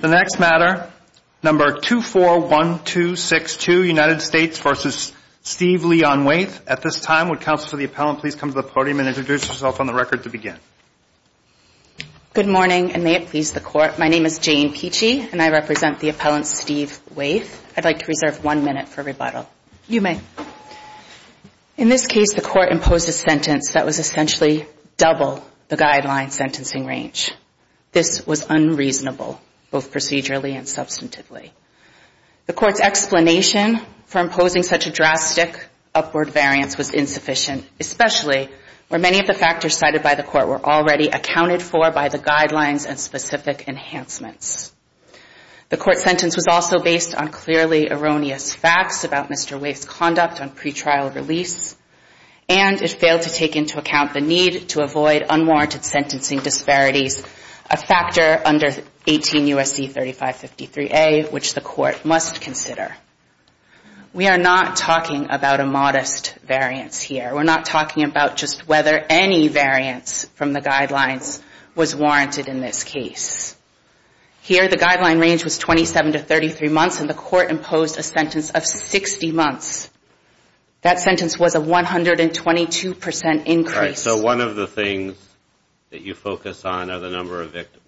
The next matter, No. 241262, United States v. Steve Leon Waithe. At this time, would Counsel for the Appellant please come to the podium and introduce herself on the record to begin. Good morning, and may it please the Court, my name is Jane Pici, and I represent the Appellant Steve Waithe. I'd like to reserve one minute for rebuttal. You may. In this case, the Court imposed a sentence that was essentially double the guideline sentencing range. This was unreasonable, both procedurally and substantively. The Court's explanation for imposing such a drastic upward variance was insufficient, especially where many of the factors cited by the Court were already accounted for by the guidelines and specific enhancements. The Court's sentence was also based on clearly erroneous facts about Mr. Waithe's conduct on pretrial release, and it failed to take into account the need to avoid unwarranted sentencing disparities, a factor under 18 U.S.C. 3553A, which the Court must consider. We are not talking about a modest variance here. We're not talking about just whether any variance from the guidelines was warranted in this case. Here, the guideline range was 27 to 33 months, and the Court imposed a sentence of 60 months. That sentence was a 122 percent increase. So one of the things that you focus on are the number of victims.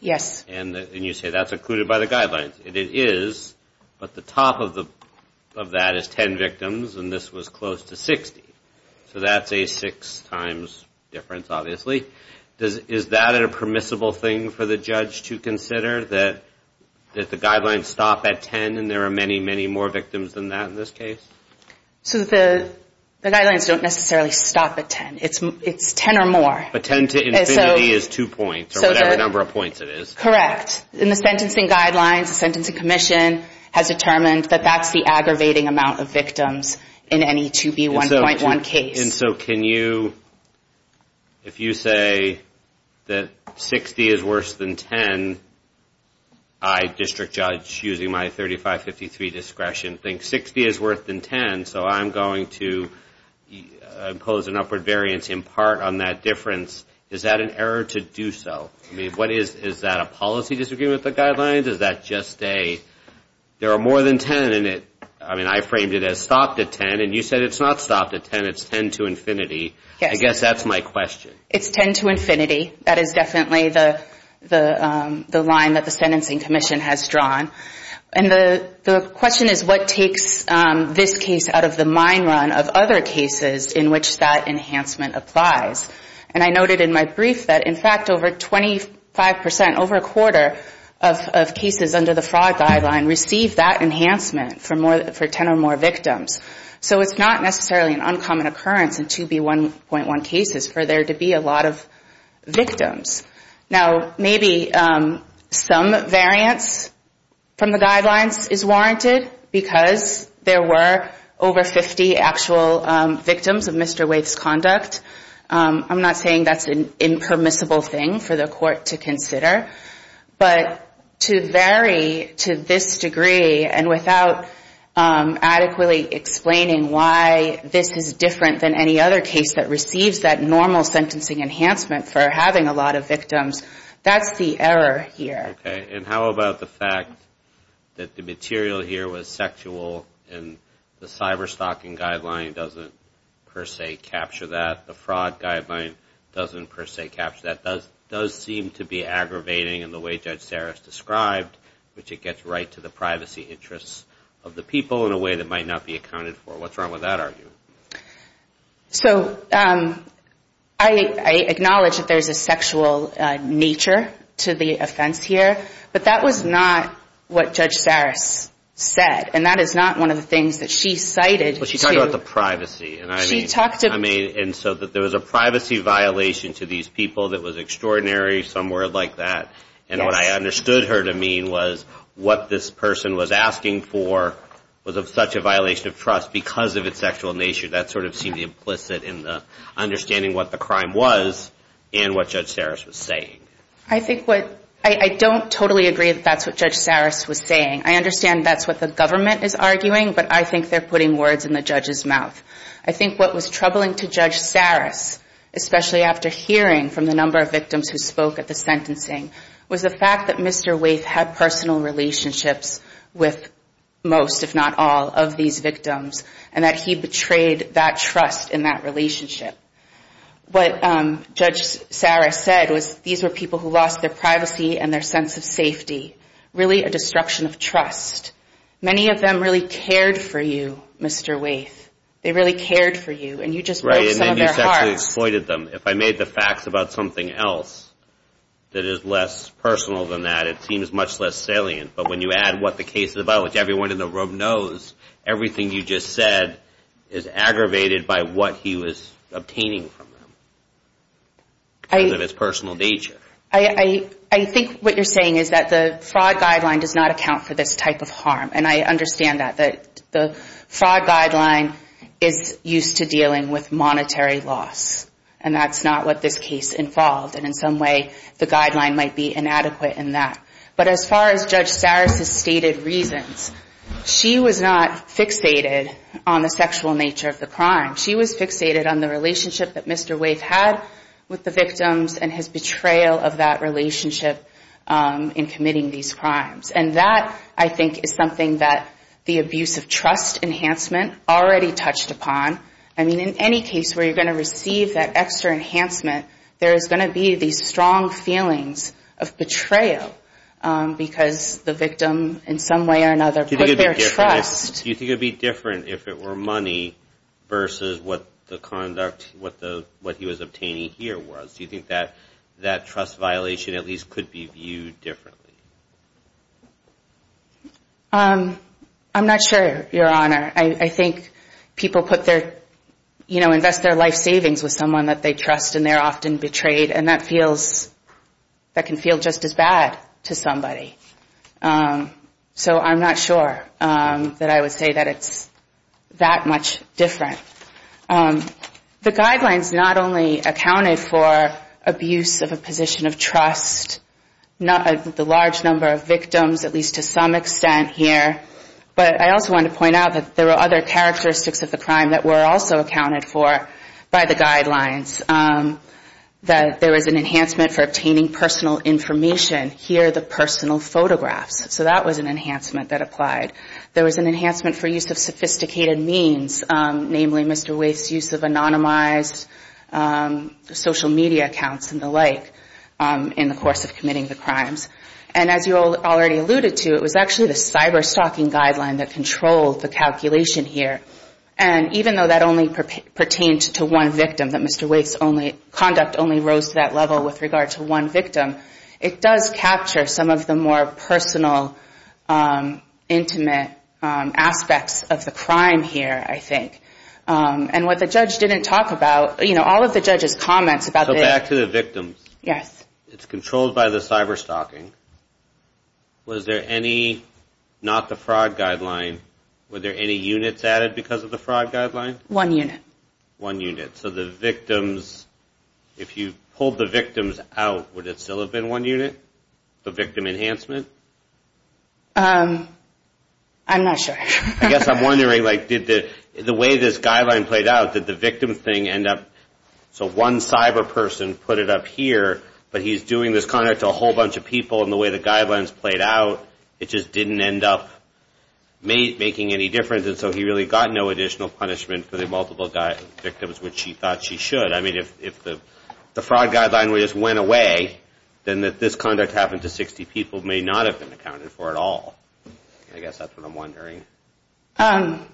Yes. And you say that's included by the guidelines, and it is, but the top of that is 10 victims, and this was close to 60. So that's a six times difference, obviously. Is that a permissible thing for the judge to consider, that the guidelines stop at 10 and there are many, many more victims than that in this case? So the guidelines don't necessarily stop at 10. It's 10 or more. But 10 to infinity is two points, or whatever number of points it is. Correct. In the sentencing guidelines, the Sentencing Commission has determined that that's the aggravating amount of victims in any 2B1.1 case. And so can you, if you say that 60 is worse than 10, I, District Judge, using my 3553 discretion, think 60 is worse than 10, so I'm going to impose an upward variance in part on that difference, is that an error to do so? Is that a policy disagreement with the guidelines? I mean, I framed it as stopped at 10, and you said it's not stopped at 10, it's 10 to infinity. I guess that's my question. It's 10 to infinity. That is definitely the line that the Sentencing Commission has drawn. And the question is, what takes this case out of the mine run of other cases in which that enhancement applies? And I noted in my brief that, in fact, over 25 percent, over a quarter, of cases under the fraud guideline receive that enhancement for 10 or more victims. So it's not necessarily an uncommon occurrence in 2B1.1 cases for there to be a lot of victims. Now, maybe some variance from the guidelines is warranted, because there were over 50 actual victims of Mr. Waithe's conduct. I'm not saying that's an impermissible thing for the court to consider. But to vary to this degree, and without adequately explaining why this is different than any other case that receives that normal sentencing enhancement for having a lot of victims, that's the error here. Okay. And how about the fact that the material here was sexual, and the cyberstalking guideline doesn't per se capture that? The fraud guideline doesn't per se capture that? It does seem to be aggravating in the way Judge Saris described, which it gets right to the privacy interests of the people in a way that might not be accounted for. What's wrong with that argument? So I acknowledge that there's a sexual nature to the offense here, but that was not what Judge Saris said. And that is not one of the things that she cited. She talked about the privacy. And so there was a privacy violation to these people that was extraordinary, somewhere like that. And what I understood her to mean was what this person was asking for was such a violation of trust because of its sexual nature. That sort of seemed implicit in understanding what the crime was and what Judge Saris was saying. I don't totally agree that that's what Judge Saris was saying. I understand that's what the government is arguing, but I think they're putting words in the judge's mouth. I think what was troubling to Judge Saris, especially after hearing from the number of victims who spoke at the sentencing, was the fact that Mr. Waithe had personal relationships with most, if not all, of these victims, and that he betrayed that trust in that relationship. What Judge Saris said was these were people who lost their privacy and their sense of safety. Really a destruction of trust. Many of them really cared for you, Mr. Waithe. They really cared for you, and you just broke some of their hearts. Right, and then you sexually exploited them. If I made the facts about something else that is less personal than that, it seems much less salient. But when you add what the case is about, which everyone in the room knows, everything you just said is aggravated by what he was obtaining from them. Because of his personal nature. I think what you're saying is that the fraud guideline does not account for this type of harm, and I understand that. The fraud guideline is used to dealing with monetary loss, and that's not what this case involved, and in some way the guideline might be inadequate in that. But as far as Judge Saris' stated reasons, she was not fixated on the sexual nature of the crime. She was fixated on the relationship that Mr. Waithe had with the victims and his betrayal of that relationship in committing these crimes. And that, I think, is something that the abuse of trust enhancement already touched upon. I mean, in any case where you're going to receive that extra enhancement, there is going to be these strong feelings of betrayal, because the victim, in some way or another, put their trust. Do you think it would be different if it were money versus what the conduct, what he was obtaining here was? Do you think that that trust violation at least could be viewed differently? I'm not sure, Your Honor. I think people invest their life savings with someone that they trust, and they're often betrayed, and that can feel just as bad to somebody. So I'm not sure that I would say that it's that much different. The guidelines not only accounted for abuse of a position of trust, the large number of victims, at least to some extent here, but I also wanted to point out that there were other characteristics of the crime that were also accounted for by the guidelines. There was an enhancement for obtaining personal information, here the personal photographs. So that was an enhancement that applied. There was an enhancement for use of sophisticated means, namely Mr. Wake's use of anonymized social media accounts and the like in the course of committing the crimes. And as you already alluded to, it was actually the cyber-stalking guideline that controlled the calculation here. And even though that only pertained to one victim, that Mr. Wake's conduct only rose to that level with regard to one victim, it does capture some of the more personal, intimate aspects of the crime here, I think. And what the judge didn't talk about, all of the judge's comments about the... So back to the victims. It's controlled by the cyber-stalking. Was there any, not the fraud guideline, were there any units added because of the fraud guideline? One unit. So if you pulled the victims out, would it still have been one unit, the victim enhancement? I'm not sure. I guess I'm wondering, like, did the way this guideline played out, did the victim thing end up... So one cyber-person put it up here, but he's doing this conduct to a whole bunch of people, and the way the guidelines played out, it just didn't end up making any difference. And so he really got no additional punishment for the multiple victims, which he thought she should. I mean, if the fraud guideline just went away, then this conduct happened to 60 people may not have been accounted for at all. I guess that's what I'm wondering. I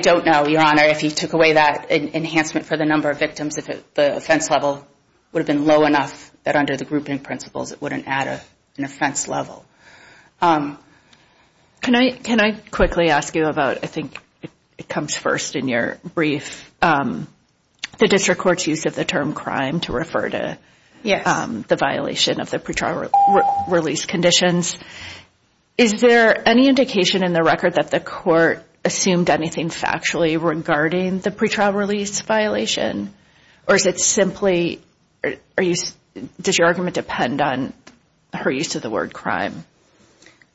don't know, Your Honor, if he took away that enhancement for the number of victims, if the offense level would have been low enough that under the grouping principles it wouldn't add an offense level. Can I quickly ask you about, I think it comes first in your brief, the district court's use of the term crime to refer to the violation of the pretrial release conditions. Is there any indication in the record that the court assumed anything factually regarding the pretrial release violation, or is it simply... Does your argument depend on her use of the word crime?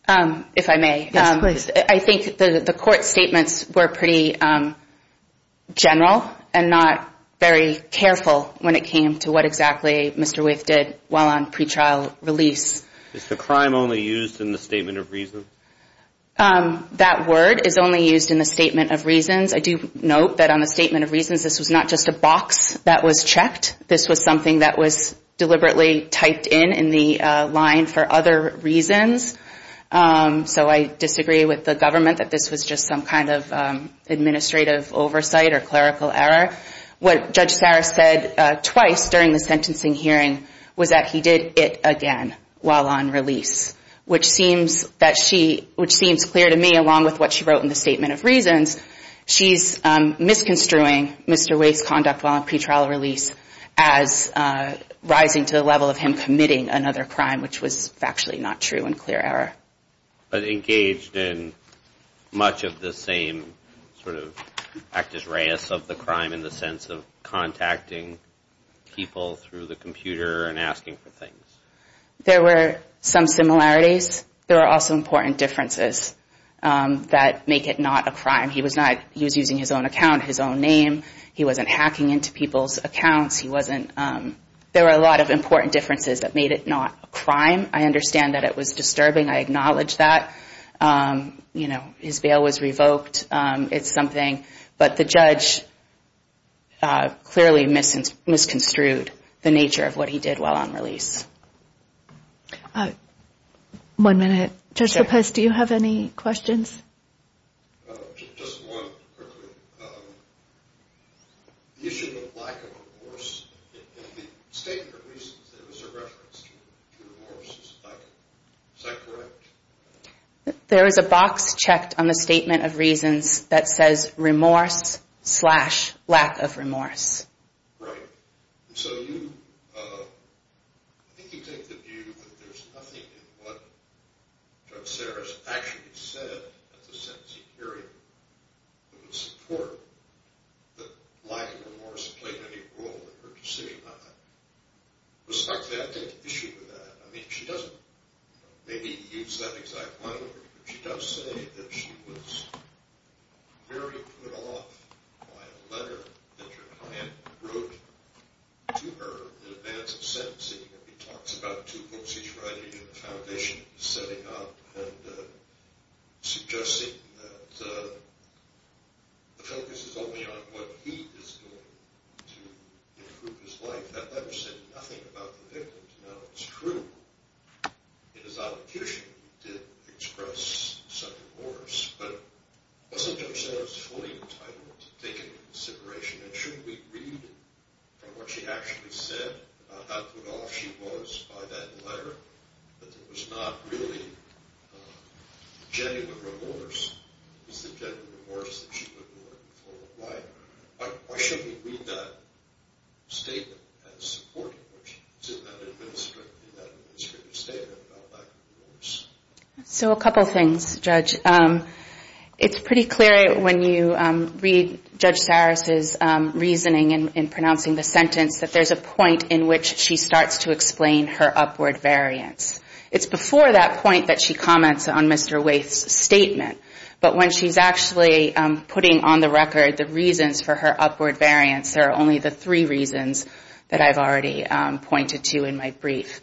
If I may. Yes, please. I think the court's statements were pretty general and not very careful when it came to what exactly Mr. Waiff did while on pretrial release. Is the crime only used in the statement of reasons? That word is only used in the statement of reasons. I do note that on the statement of reasons this was not just a box that was checked. This was something that was deliberately typed in in the line for other reasons. So I disagree with the government that this was just some kind of administrative oversight or clerical error. What Judge Sarah said twice during the sentencing hearing was that he did it again while on release, which seems clear to me along with what she wrote in the statement of reasons. She's misconstruing Mr. Waiff's conduct while on pretrial release as rising to the level of him committing another crime, which was factually not true and clear error. But engaged in much of the same sort of actus reus of the crime in the sense of contacting people through the computer and asking for things? There were some similarities. There were also important differences that make it not a crime. He was using his own account, his own name. He wasn't hacking into people's accounts. There were a lot of important differences that made it not a crime. I understand that it was disturbing. I acknowledge that. His bail was revoked. It's something. But the judge clearly misconstrued the nature of what he did while on release. One minute. Judge Lopez, do you have any questions? There is a box checked on the statement of reasons that says remorse slash lack of remorse. Judge Sarris actually said at the sentencing hearing it was important that lack of remorse played any role in her decision. Respectfully, I take issue with that. I mean, she doesn't maybe use that exact line, but she does say that she was very put off by a letter that her client wrote to her in advance of sentencing. He talks about two books he's writing and the foundation he's setting up and suggesting that the focus is only on what he is doing to improve his life. That letter said nothing about the victim. Now, it's true. It is obfuscation. She did express some remorse, but wasn't Judge Sarris fully entitled to take into consideration and shouldn't we read from what she actually said about how put off she was by that letter? That there was not really genuine remorse. It's the genuine remorse that she was looking for. Why shouldn't we read that statement as supporting what she said in that administrative statement about lack of remorse? So a couple things, Judge. It's pretty clear when you read Judge Sarris' reasoning in pronouncing the sentence that there's a point in which she starts to explain her upward variance. It's before that point that she comments on Mr. Waithe's statement, but when she's actually putting on the record the reasons for her upward variance, there are only the three reasons that I've already pointed to in my brief.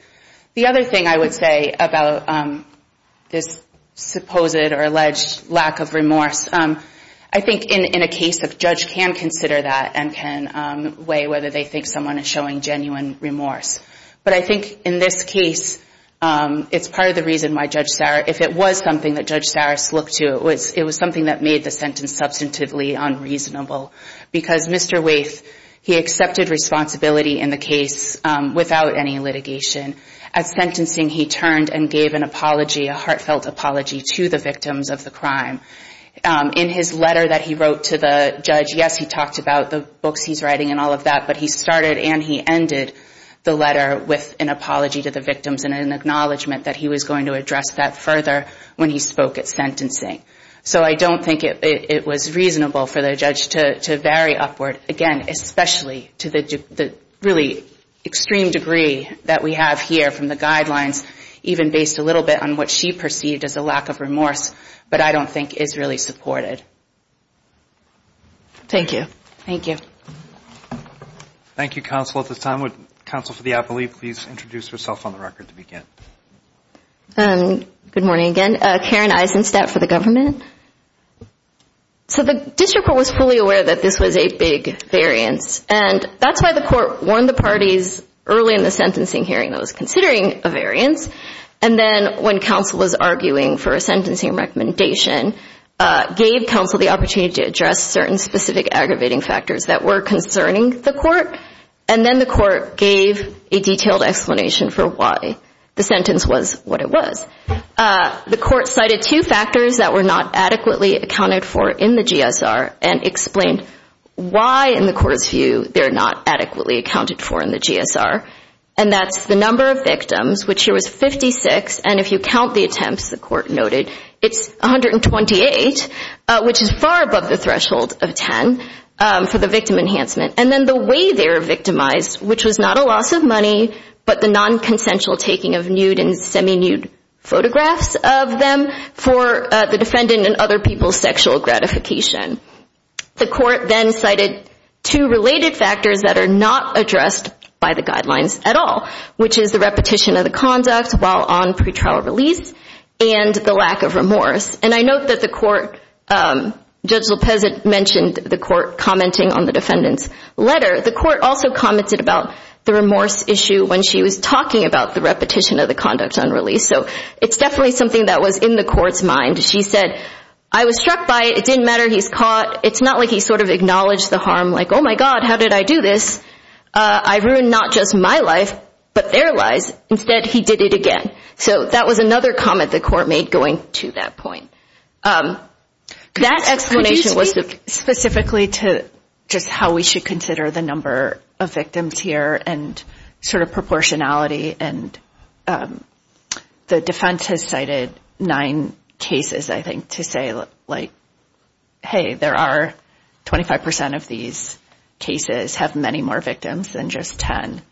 The other thing I would say about this supposed or alleged lack of remorse, I think in a case a judge can consider that and can weigh whether they think someone is showing genuine remorse. But I think in this case, it's part of the reason why Judge Sarris, if it was something that Judge Sarris looked to, it was something that made the sentence substantively unreasonable. Because Mr. Waithe, he accepted responsibility in the case without any litigation. At sentencing, he turned and gave an apology, a heartfelt apology to the victims of the crime. In his letter that he wrote to the judge, yes, he talked about the books he's writing and all of that, but he started and he ended the letter with an apology to the victims and an acknowledgement that he was going to address that further when he spoke at sentencing. So I don't think it was reasonable for the judge to vary upward, again, especially to the really extreme degree that we have here from the guidelines, even based a little bit on what she perceived as a lack of remorse, but I don't think is really supported. Thank you. Thank you. Thank you, counsel. At this time, would counsel for the appellee please introduce herself on the record to begin? Good morning again. Karen Eisenstadt for the government. So the district court was fully aware that this was a big variance, and that's why the court warned the parties early in the sentencing hearing that it was considering a variance, and then when counsel was arguing for a sentencing recommendation, gave counsel the opportunity to address certain specific aggravating factors that were concerning the court, and then the court gave a detailed explanation for why the sentence was what it was. The court cited two factors that were not adequately accounted for in the GSR, and explained why in the court's view they're not adequately accounted for in the GSR, and that's the number of victims, which here was 56, and if you count the attempts the court noted, it's 128, which is far above the threshold of 10 for the victim enhancement, and then the way they were victimized, which was not a loss of money, but the nonconsensual taking of nude and semi-nude photographs of them for the defendant and other people's sexual gratification. The court then cited two related factors that are not addressed by the guidelines at all, which is the repetition of the conduct while on pretrial release, and the lack of remorse, and I note that the court, Judge Lopez mentioned the court commenting on the defendant's letter. The court also commented about the remorse issue when she was talking about the repetition of the conduct on release, so it's definitely something that was in the court's mind. She said, I was struck by it, it didn't matter, he's caught, it's not like he sort of acknowledged the harm, like, oh my God, how did I do this, I ruined not just my life, but their lives, instead he did it again. So that was another comment the court made going to that point. That explanation was specifically to just how we should consider the number of victims here and sort of proportionality, and the defense has cited nine cases, I think, to say, like, hey, there are 25% of these cases have many more victims than just 10,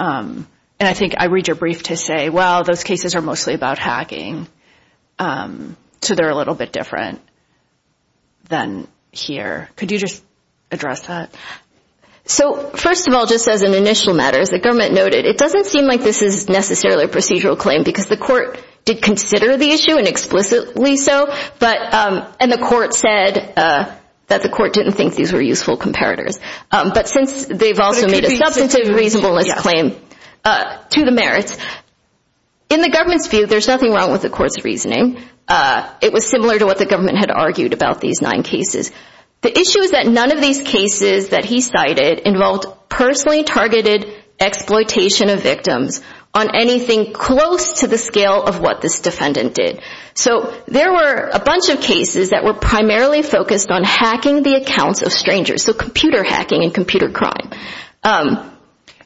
and I think I read your brief to say, well, those cases are mostly about hacking, so they're a little bit different than here. Could you just address that? So first of all, just as an initial matter, as the government noted, it doesn't seem like this is necessarily a procedural claim, because the court did consider the issue, and explicitly so, and the court said that the court didn't think these were useful comparators. But since they've also made a substantive reasonableness claim to the merits, in the government's view, there's nothing wrong with the court's reasoning. It was similar to what the government had argued about these nine cases. The issue is that none of these cases that he cited involved personally targeted exploitation of victims on anything close to the scale of what this defendant did. So there were a bunch of cases that were primarily focused on hacking the accounts of strangers, so computer hacking and computer crime.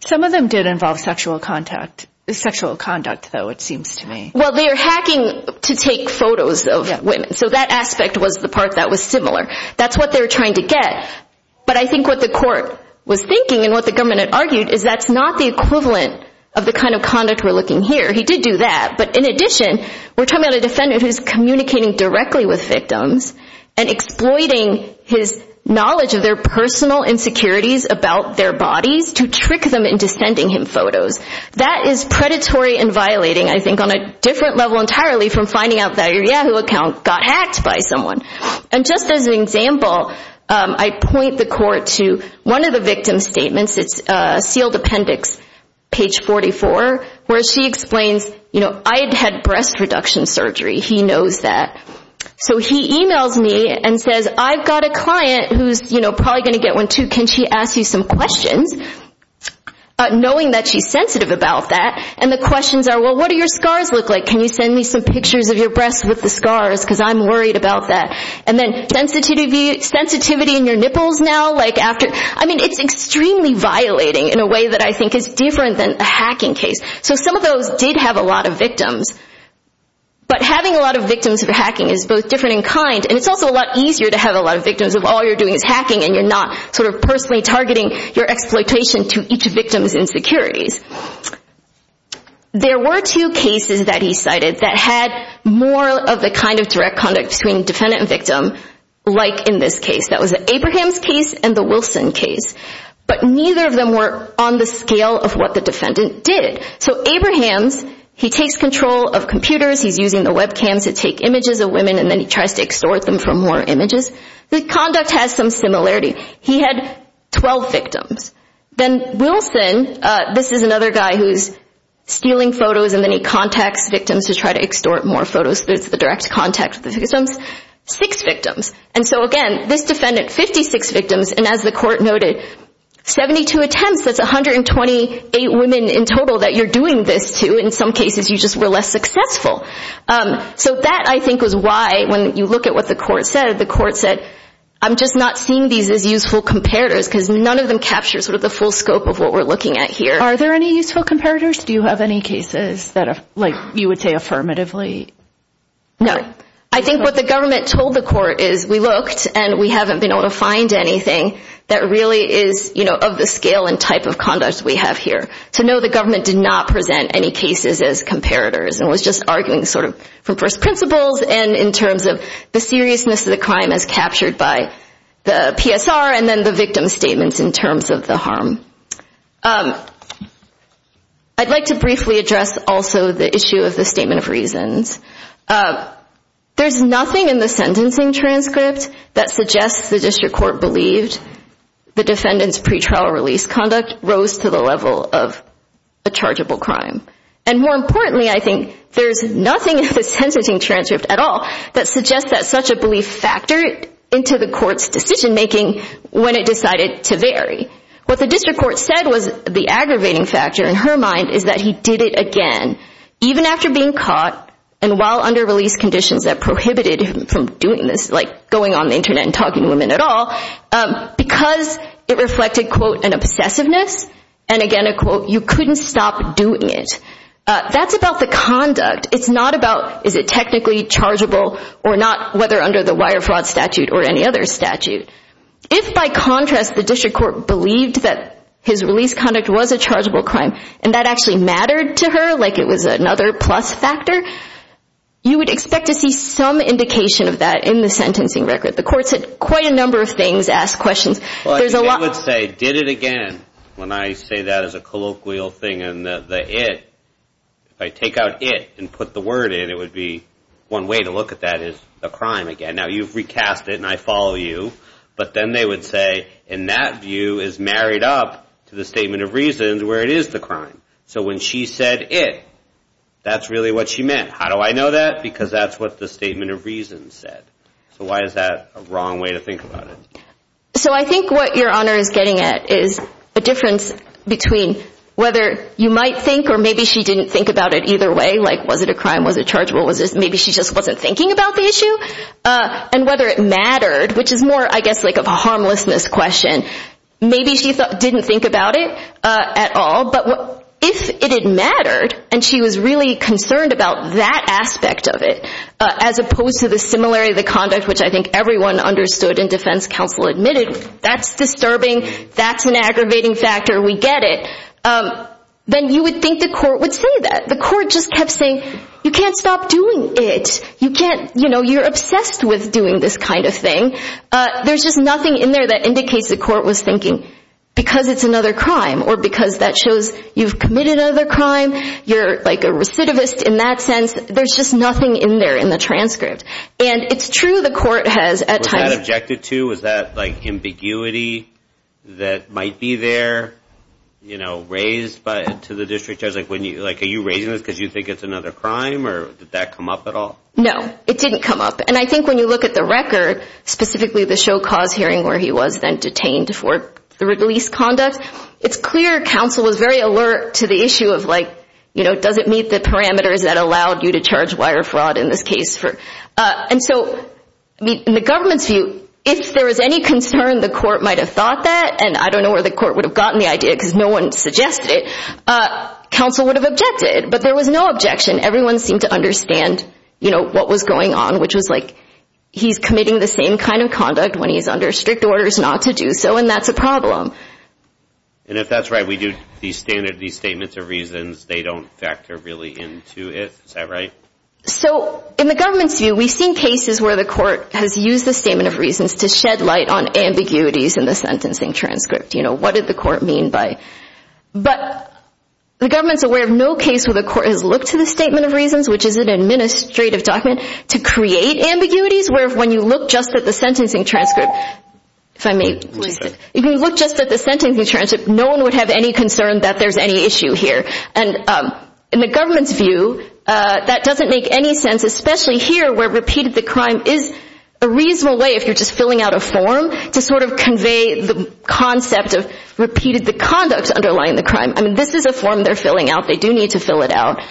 Some of them did involve sexual conduct, though, it seems to me. Well, they were hacking to take photos of women, so that aspect was the part that was similar. That's what they were trying to get. But I think what the court was thinking and what the government had argued is that's not the equivalent of the kind of conduct we're looking here. He did do that, but in addition, we're talking about a defendant who's communicating directly with victims and exploiting his knowledge of their personal insecurities about their bodies to trick them into sending him photos. That is predatory and violating, I think, on a different level entirely from finding out that your Yahoo account got hacked by someone. And just as an example, I point the court to one of the victim's statements. It's a sealed appendix, page 44, where she explains, you know, I had had breast reduction surgery. He knows that. So he emails me and says, I've got a client who's probably going to get one, too. Can she ask you some questions, knowing that she's sensitive about that? And the questions are, well, what do your scars look like? Can you send me some pictures of your breasts with the scars, because I'm worried about that? And then sensitivity in your nipples now? I mean, it's extremely violating in a way that I think is different than a hacking case. So some of those did have a lot of victims, but having a lot of victims of hacking is both different in kind, and it's also a lot easier to have a lot of victims if all you're doing is hacking and you're not sort of personally targeting your exploitation to each victim's insecurities. There were two cases that he cited that had more of the kind of direct conduct between defendant and victim, like in this case. That was the Abrahams case and the Wilson case. But neither of them were on the scale of what the defendant did. So Abrahams, he takes control of computers, he's using the webcams to take images of women, and then he tries to extort them for more images. The conduct has some similarity. He had 12 victims. Then Wilson, this is another guy who's stealing photos, and then he contacts victims to try to extort more photos, so it's the direct contact with the victims. Six victims. And so again, this defendant, 56 victims, and as the court noted, 72 attempts, that's 128 women in total that you're doing this to. In some cases, you just were less successful. So that, I think, was why, when you look at what the court said, the court said, I'm just not seeing these as useful comparators, because none of them capture the full scope of what we're looking at here. Are there any useful comparators? Do you have any cases that you would say affirmatively? No. I think what the government told the court is we looked, and we haven't been able to find anything that really is of the scale and type of conduct we have here. To know the government did not present any cases as comparators and was just arguing sort of from first principles and in terms of the seriousness of the crime as captured by the PSR and then the victim's statements in terms of the harm. I'd like to briefly address also the issue of the statement of reasons. There's nothing in the sentencing transcript that suggests the district court believed that the defendant's pretrial release conduct rose to the level of a chargeable crime. And more importantly, I think, there's nothing in the sentencing transcript at all that suggests that such a belief factored into the court's decision making when it decided to vary. What the district court said was the aggravating factor in her mind is that he did it again, even after being caught and while under release conditions that prohibited him from doing this, like going on the Internet and talking to women at all, because it reflected, quote, an obsessiveness and, again, a quote, you couldn't stop doing it. That's about the conduct. It's not about is it technically chargeable or not, whether under the wire fraud statute or any other statute. If, by contrast, the district court believed that his release conduct was a chargeable crime, and that actually mattered to her, like it was another plus factor, you would expect to see some indication of that in the sentencing record. The court said quite a number of things, asked questions. Well, I would say did it again. When I say that as a colloquial thing and the it, if I take out it and put the word in, it would be one way to look at that as a crime again. Now, you've recast it and I follow you, but then they would say, and that view is married up to the statement of reasons where it is the crime. So when she said it, that's really what she meant. How do I know that? Because that's what the statement of reasons said. So why is that a wrong way to think about it? So I think what Your Honor is getting at is a difference between whether you might think or maybe she didn't think about it either way, like was it a crime, was it chargeable, maybe she just wasn't thinking about the issue, and whether it mattered, which is more, I guess, like of a harmlessness question. Maybe she didn't think about it at all, but if it had mattered and she was really concerned about that aspect of it, as opposed to the similarity of the conduct, which I think everyone understood and defense counsel admitted, that's disturbing, that's an aggravating factor, we get it, then you would think the court would say that. The court just kept saying, you can't stop doing it. You're obsessed with doing this kind of thing. There's just nothing in there that indicates the court was thinking because it's another crime or because that shows you've committed another crime. You're like a recidivist in that sense. There's just nothing in there in the transcript, and it's true the court has at times Was that objected to? Was that ambiguity that might be there raised to the district judge? Are you raising this because you think it's another crime or did that come up at all? No, it didn't come up, and I think when you look at the record, specifically the show cause hearing where he was then detained for the release conduct, it's clear counsel was very alert to the issue of does it meet the parameters that allowed you to charge wire fraud in this case. And so in the government's view, if there was any concern the court might have thought that, and I don't know where the court would have gotten the idea because no one suggested it, but counsel would have objected, but there was no objection. Everyone seemed to understand what was going on, which was like, he's committing the same kind of conduct when he's under strict orders not to do so, and that's a problem. And if that's right, we do these statements of reasons. They don't factor really into it. Is that right? So in the government's view, we've seen cases where the court has used the statement of reasons to shed light on ambiguities in the sentencing transcript. You know, what did the court mean by it? But the government's aware of no case where the court has looked to the statement of reasons, which is an administrative document, to create ambiguities, where when you look just at the sentencing transcript, no one would have any concern that there's any issue here. And in the government's view, that doesn't make any sense, especially here where repeated the crime is a reasonable way, if you're just filling out a form, to sort of convey the concept of repeated the conduct underlying the crime. I mean, this is a form they're filling out. They do need to fill it out,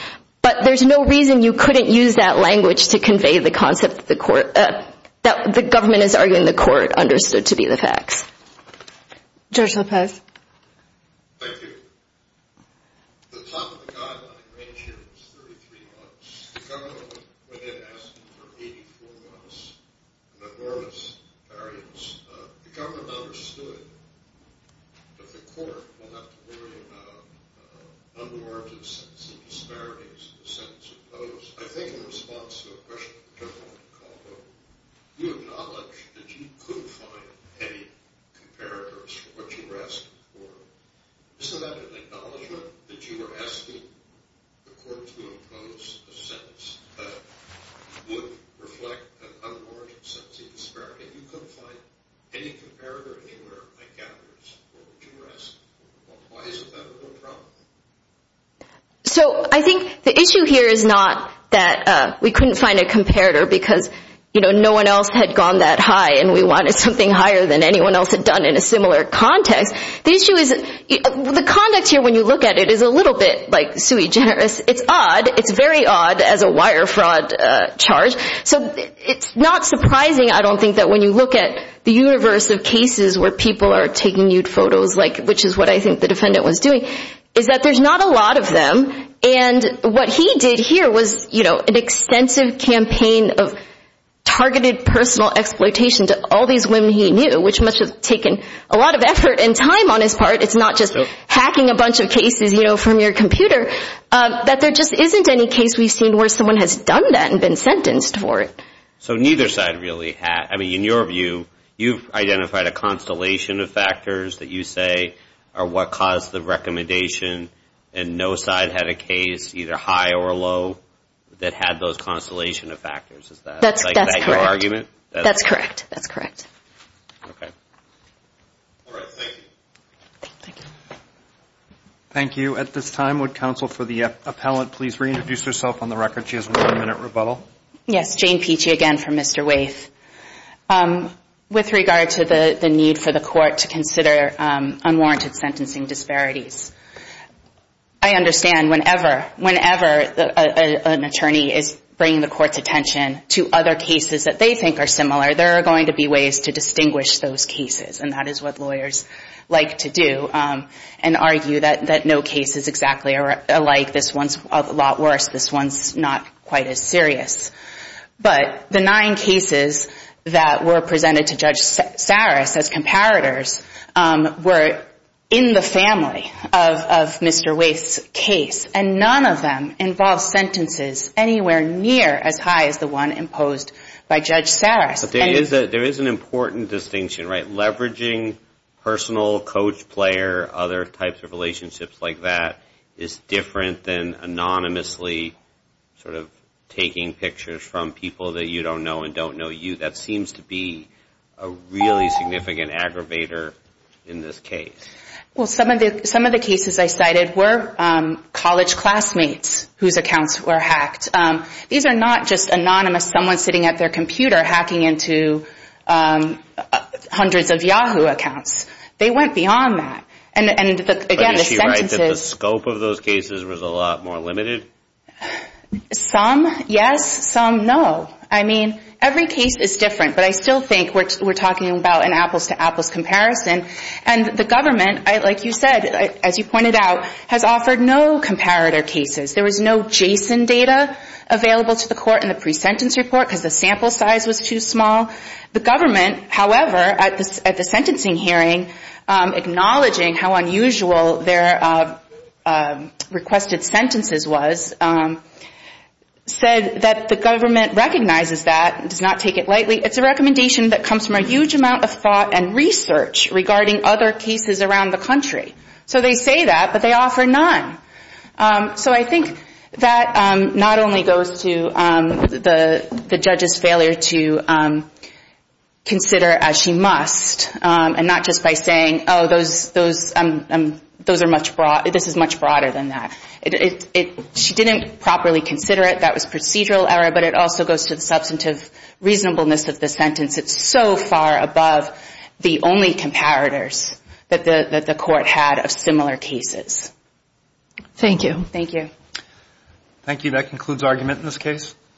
but there's no reason you couldn't use that language to convey the concept that the government is arguing the court understood to be the facts. Judge Lopez. Thank you. The top of the guideline range here is 33 months. The government went in and asked for 84 months, an enormous variance. The government understood that the court will have to worry about under-oriented sentencing disparities in the sentence imposed. I think in response to a question from the gentleman on the call, you acknowledged that you couldn't find any comparators for what you were asking for. Isn't that an acknowledgment that you were asking the court to impose a sentence that would reflect an under-oriented sentencing disparity, and you couldn't find any comparator anywhere in the categories for what you were asking for? Why is that a problem? So I think the issue here is not that we couldn't find a comparator because no one else had gone that high and we wanted something higher than anyone else had done in a similar context. The issue is the conduct here, when you look at it, is a little bit sui generis. It's odd. It's very odd as a wire fraud charge. So it's not surprising, I don't think, that when you look at the universe of cases where people are taking nude photos, which is what I think the defendant was doing, is that there's not a lot of them. And what he did here was an extensive campaign of targeted personal exploitation to all these women he knew, which must have taken a lot of effort and time on his part. It's not just hacking a bunch of cases from your computer. But there just isn't any case we've seen where someone has done that and been sentenced for it. So neither side really had. I mean, in your view, you've identified a constellation of factors that you say are what caused the recommendation, and no side had a case, either high or low, that had those constellation of factors. Is that your argument? That's correct. That's correct. Okay. All right. Thank you. Thank you. Thank you. At this time, would counsel for the appellant please reintroduce herself on the record? She has one minute rebuttal. Yes. Jane Peachy again for Mr. Waithe. With regard to the need for the court to consider unwarranted sentencing disparities, I understand whenever an attorney is bringing the court's attention to other cases that they think are similar, there are going to be ways to distinguish those cases, and that is what lawyers like to do and argue that no case is exactly alike. This one's a lot worse. This one's not quite as serious. But the nine cases that were presented to Judge Saris as comparators were in the family of Mr. Waithe's case, and none of them involved sentences anywhere near as high as the one imposed by Judge Saris. But there is an important distinction, right? Leveraging personal, coach, player, other types of relationships like that is different than anonymously sort of taking pictures from people that you don't know and don't know you. That seems to be a really significant aggravator in this case. Well, some of the cases I cited were college classmates whose accounts were hacked. These are not just anonymous someone sitting at their computer hacking into hundreds of Yahoo accounts. They went beyond that. But is she right that the scope of those cases was a lot more limited? Some, yes. Some, no. I mean, every case is different, but I still think we're talking about an apples-to-apples comparison. And the government, like you said, as you pointed out, has offered no comparator cases. There was no JSON data available to the court in the pre-sentence report because the sample size was too small. The government, however, at the sentencing hearing, acknowledging how unusual their requested sentences was, said that the government recognizes that and does not take it lightly. It's a recommendation that comes from a huge amount of thought and research regarding other cases around the country. So they say that, but they offer none. So I think that not only goes to the judge's failure to consider it as she must and not just by saying, oh, this is much broader than that. She didn't properly consider it. That was procedural error, but it also goes to the substantive reasonableness of the sentence. It's so far above the only comparators that the court had of similar cases. Thank you. Thank you. Thank you. That concludes argument in this case.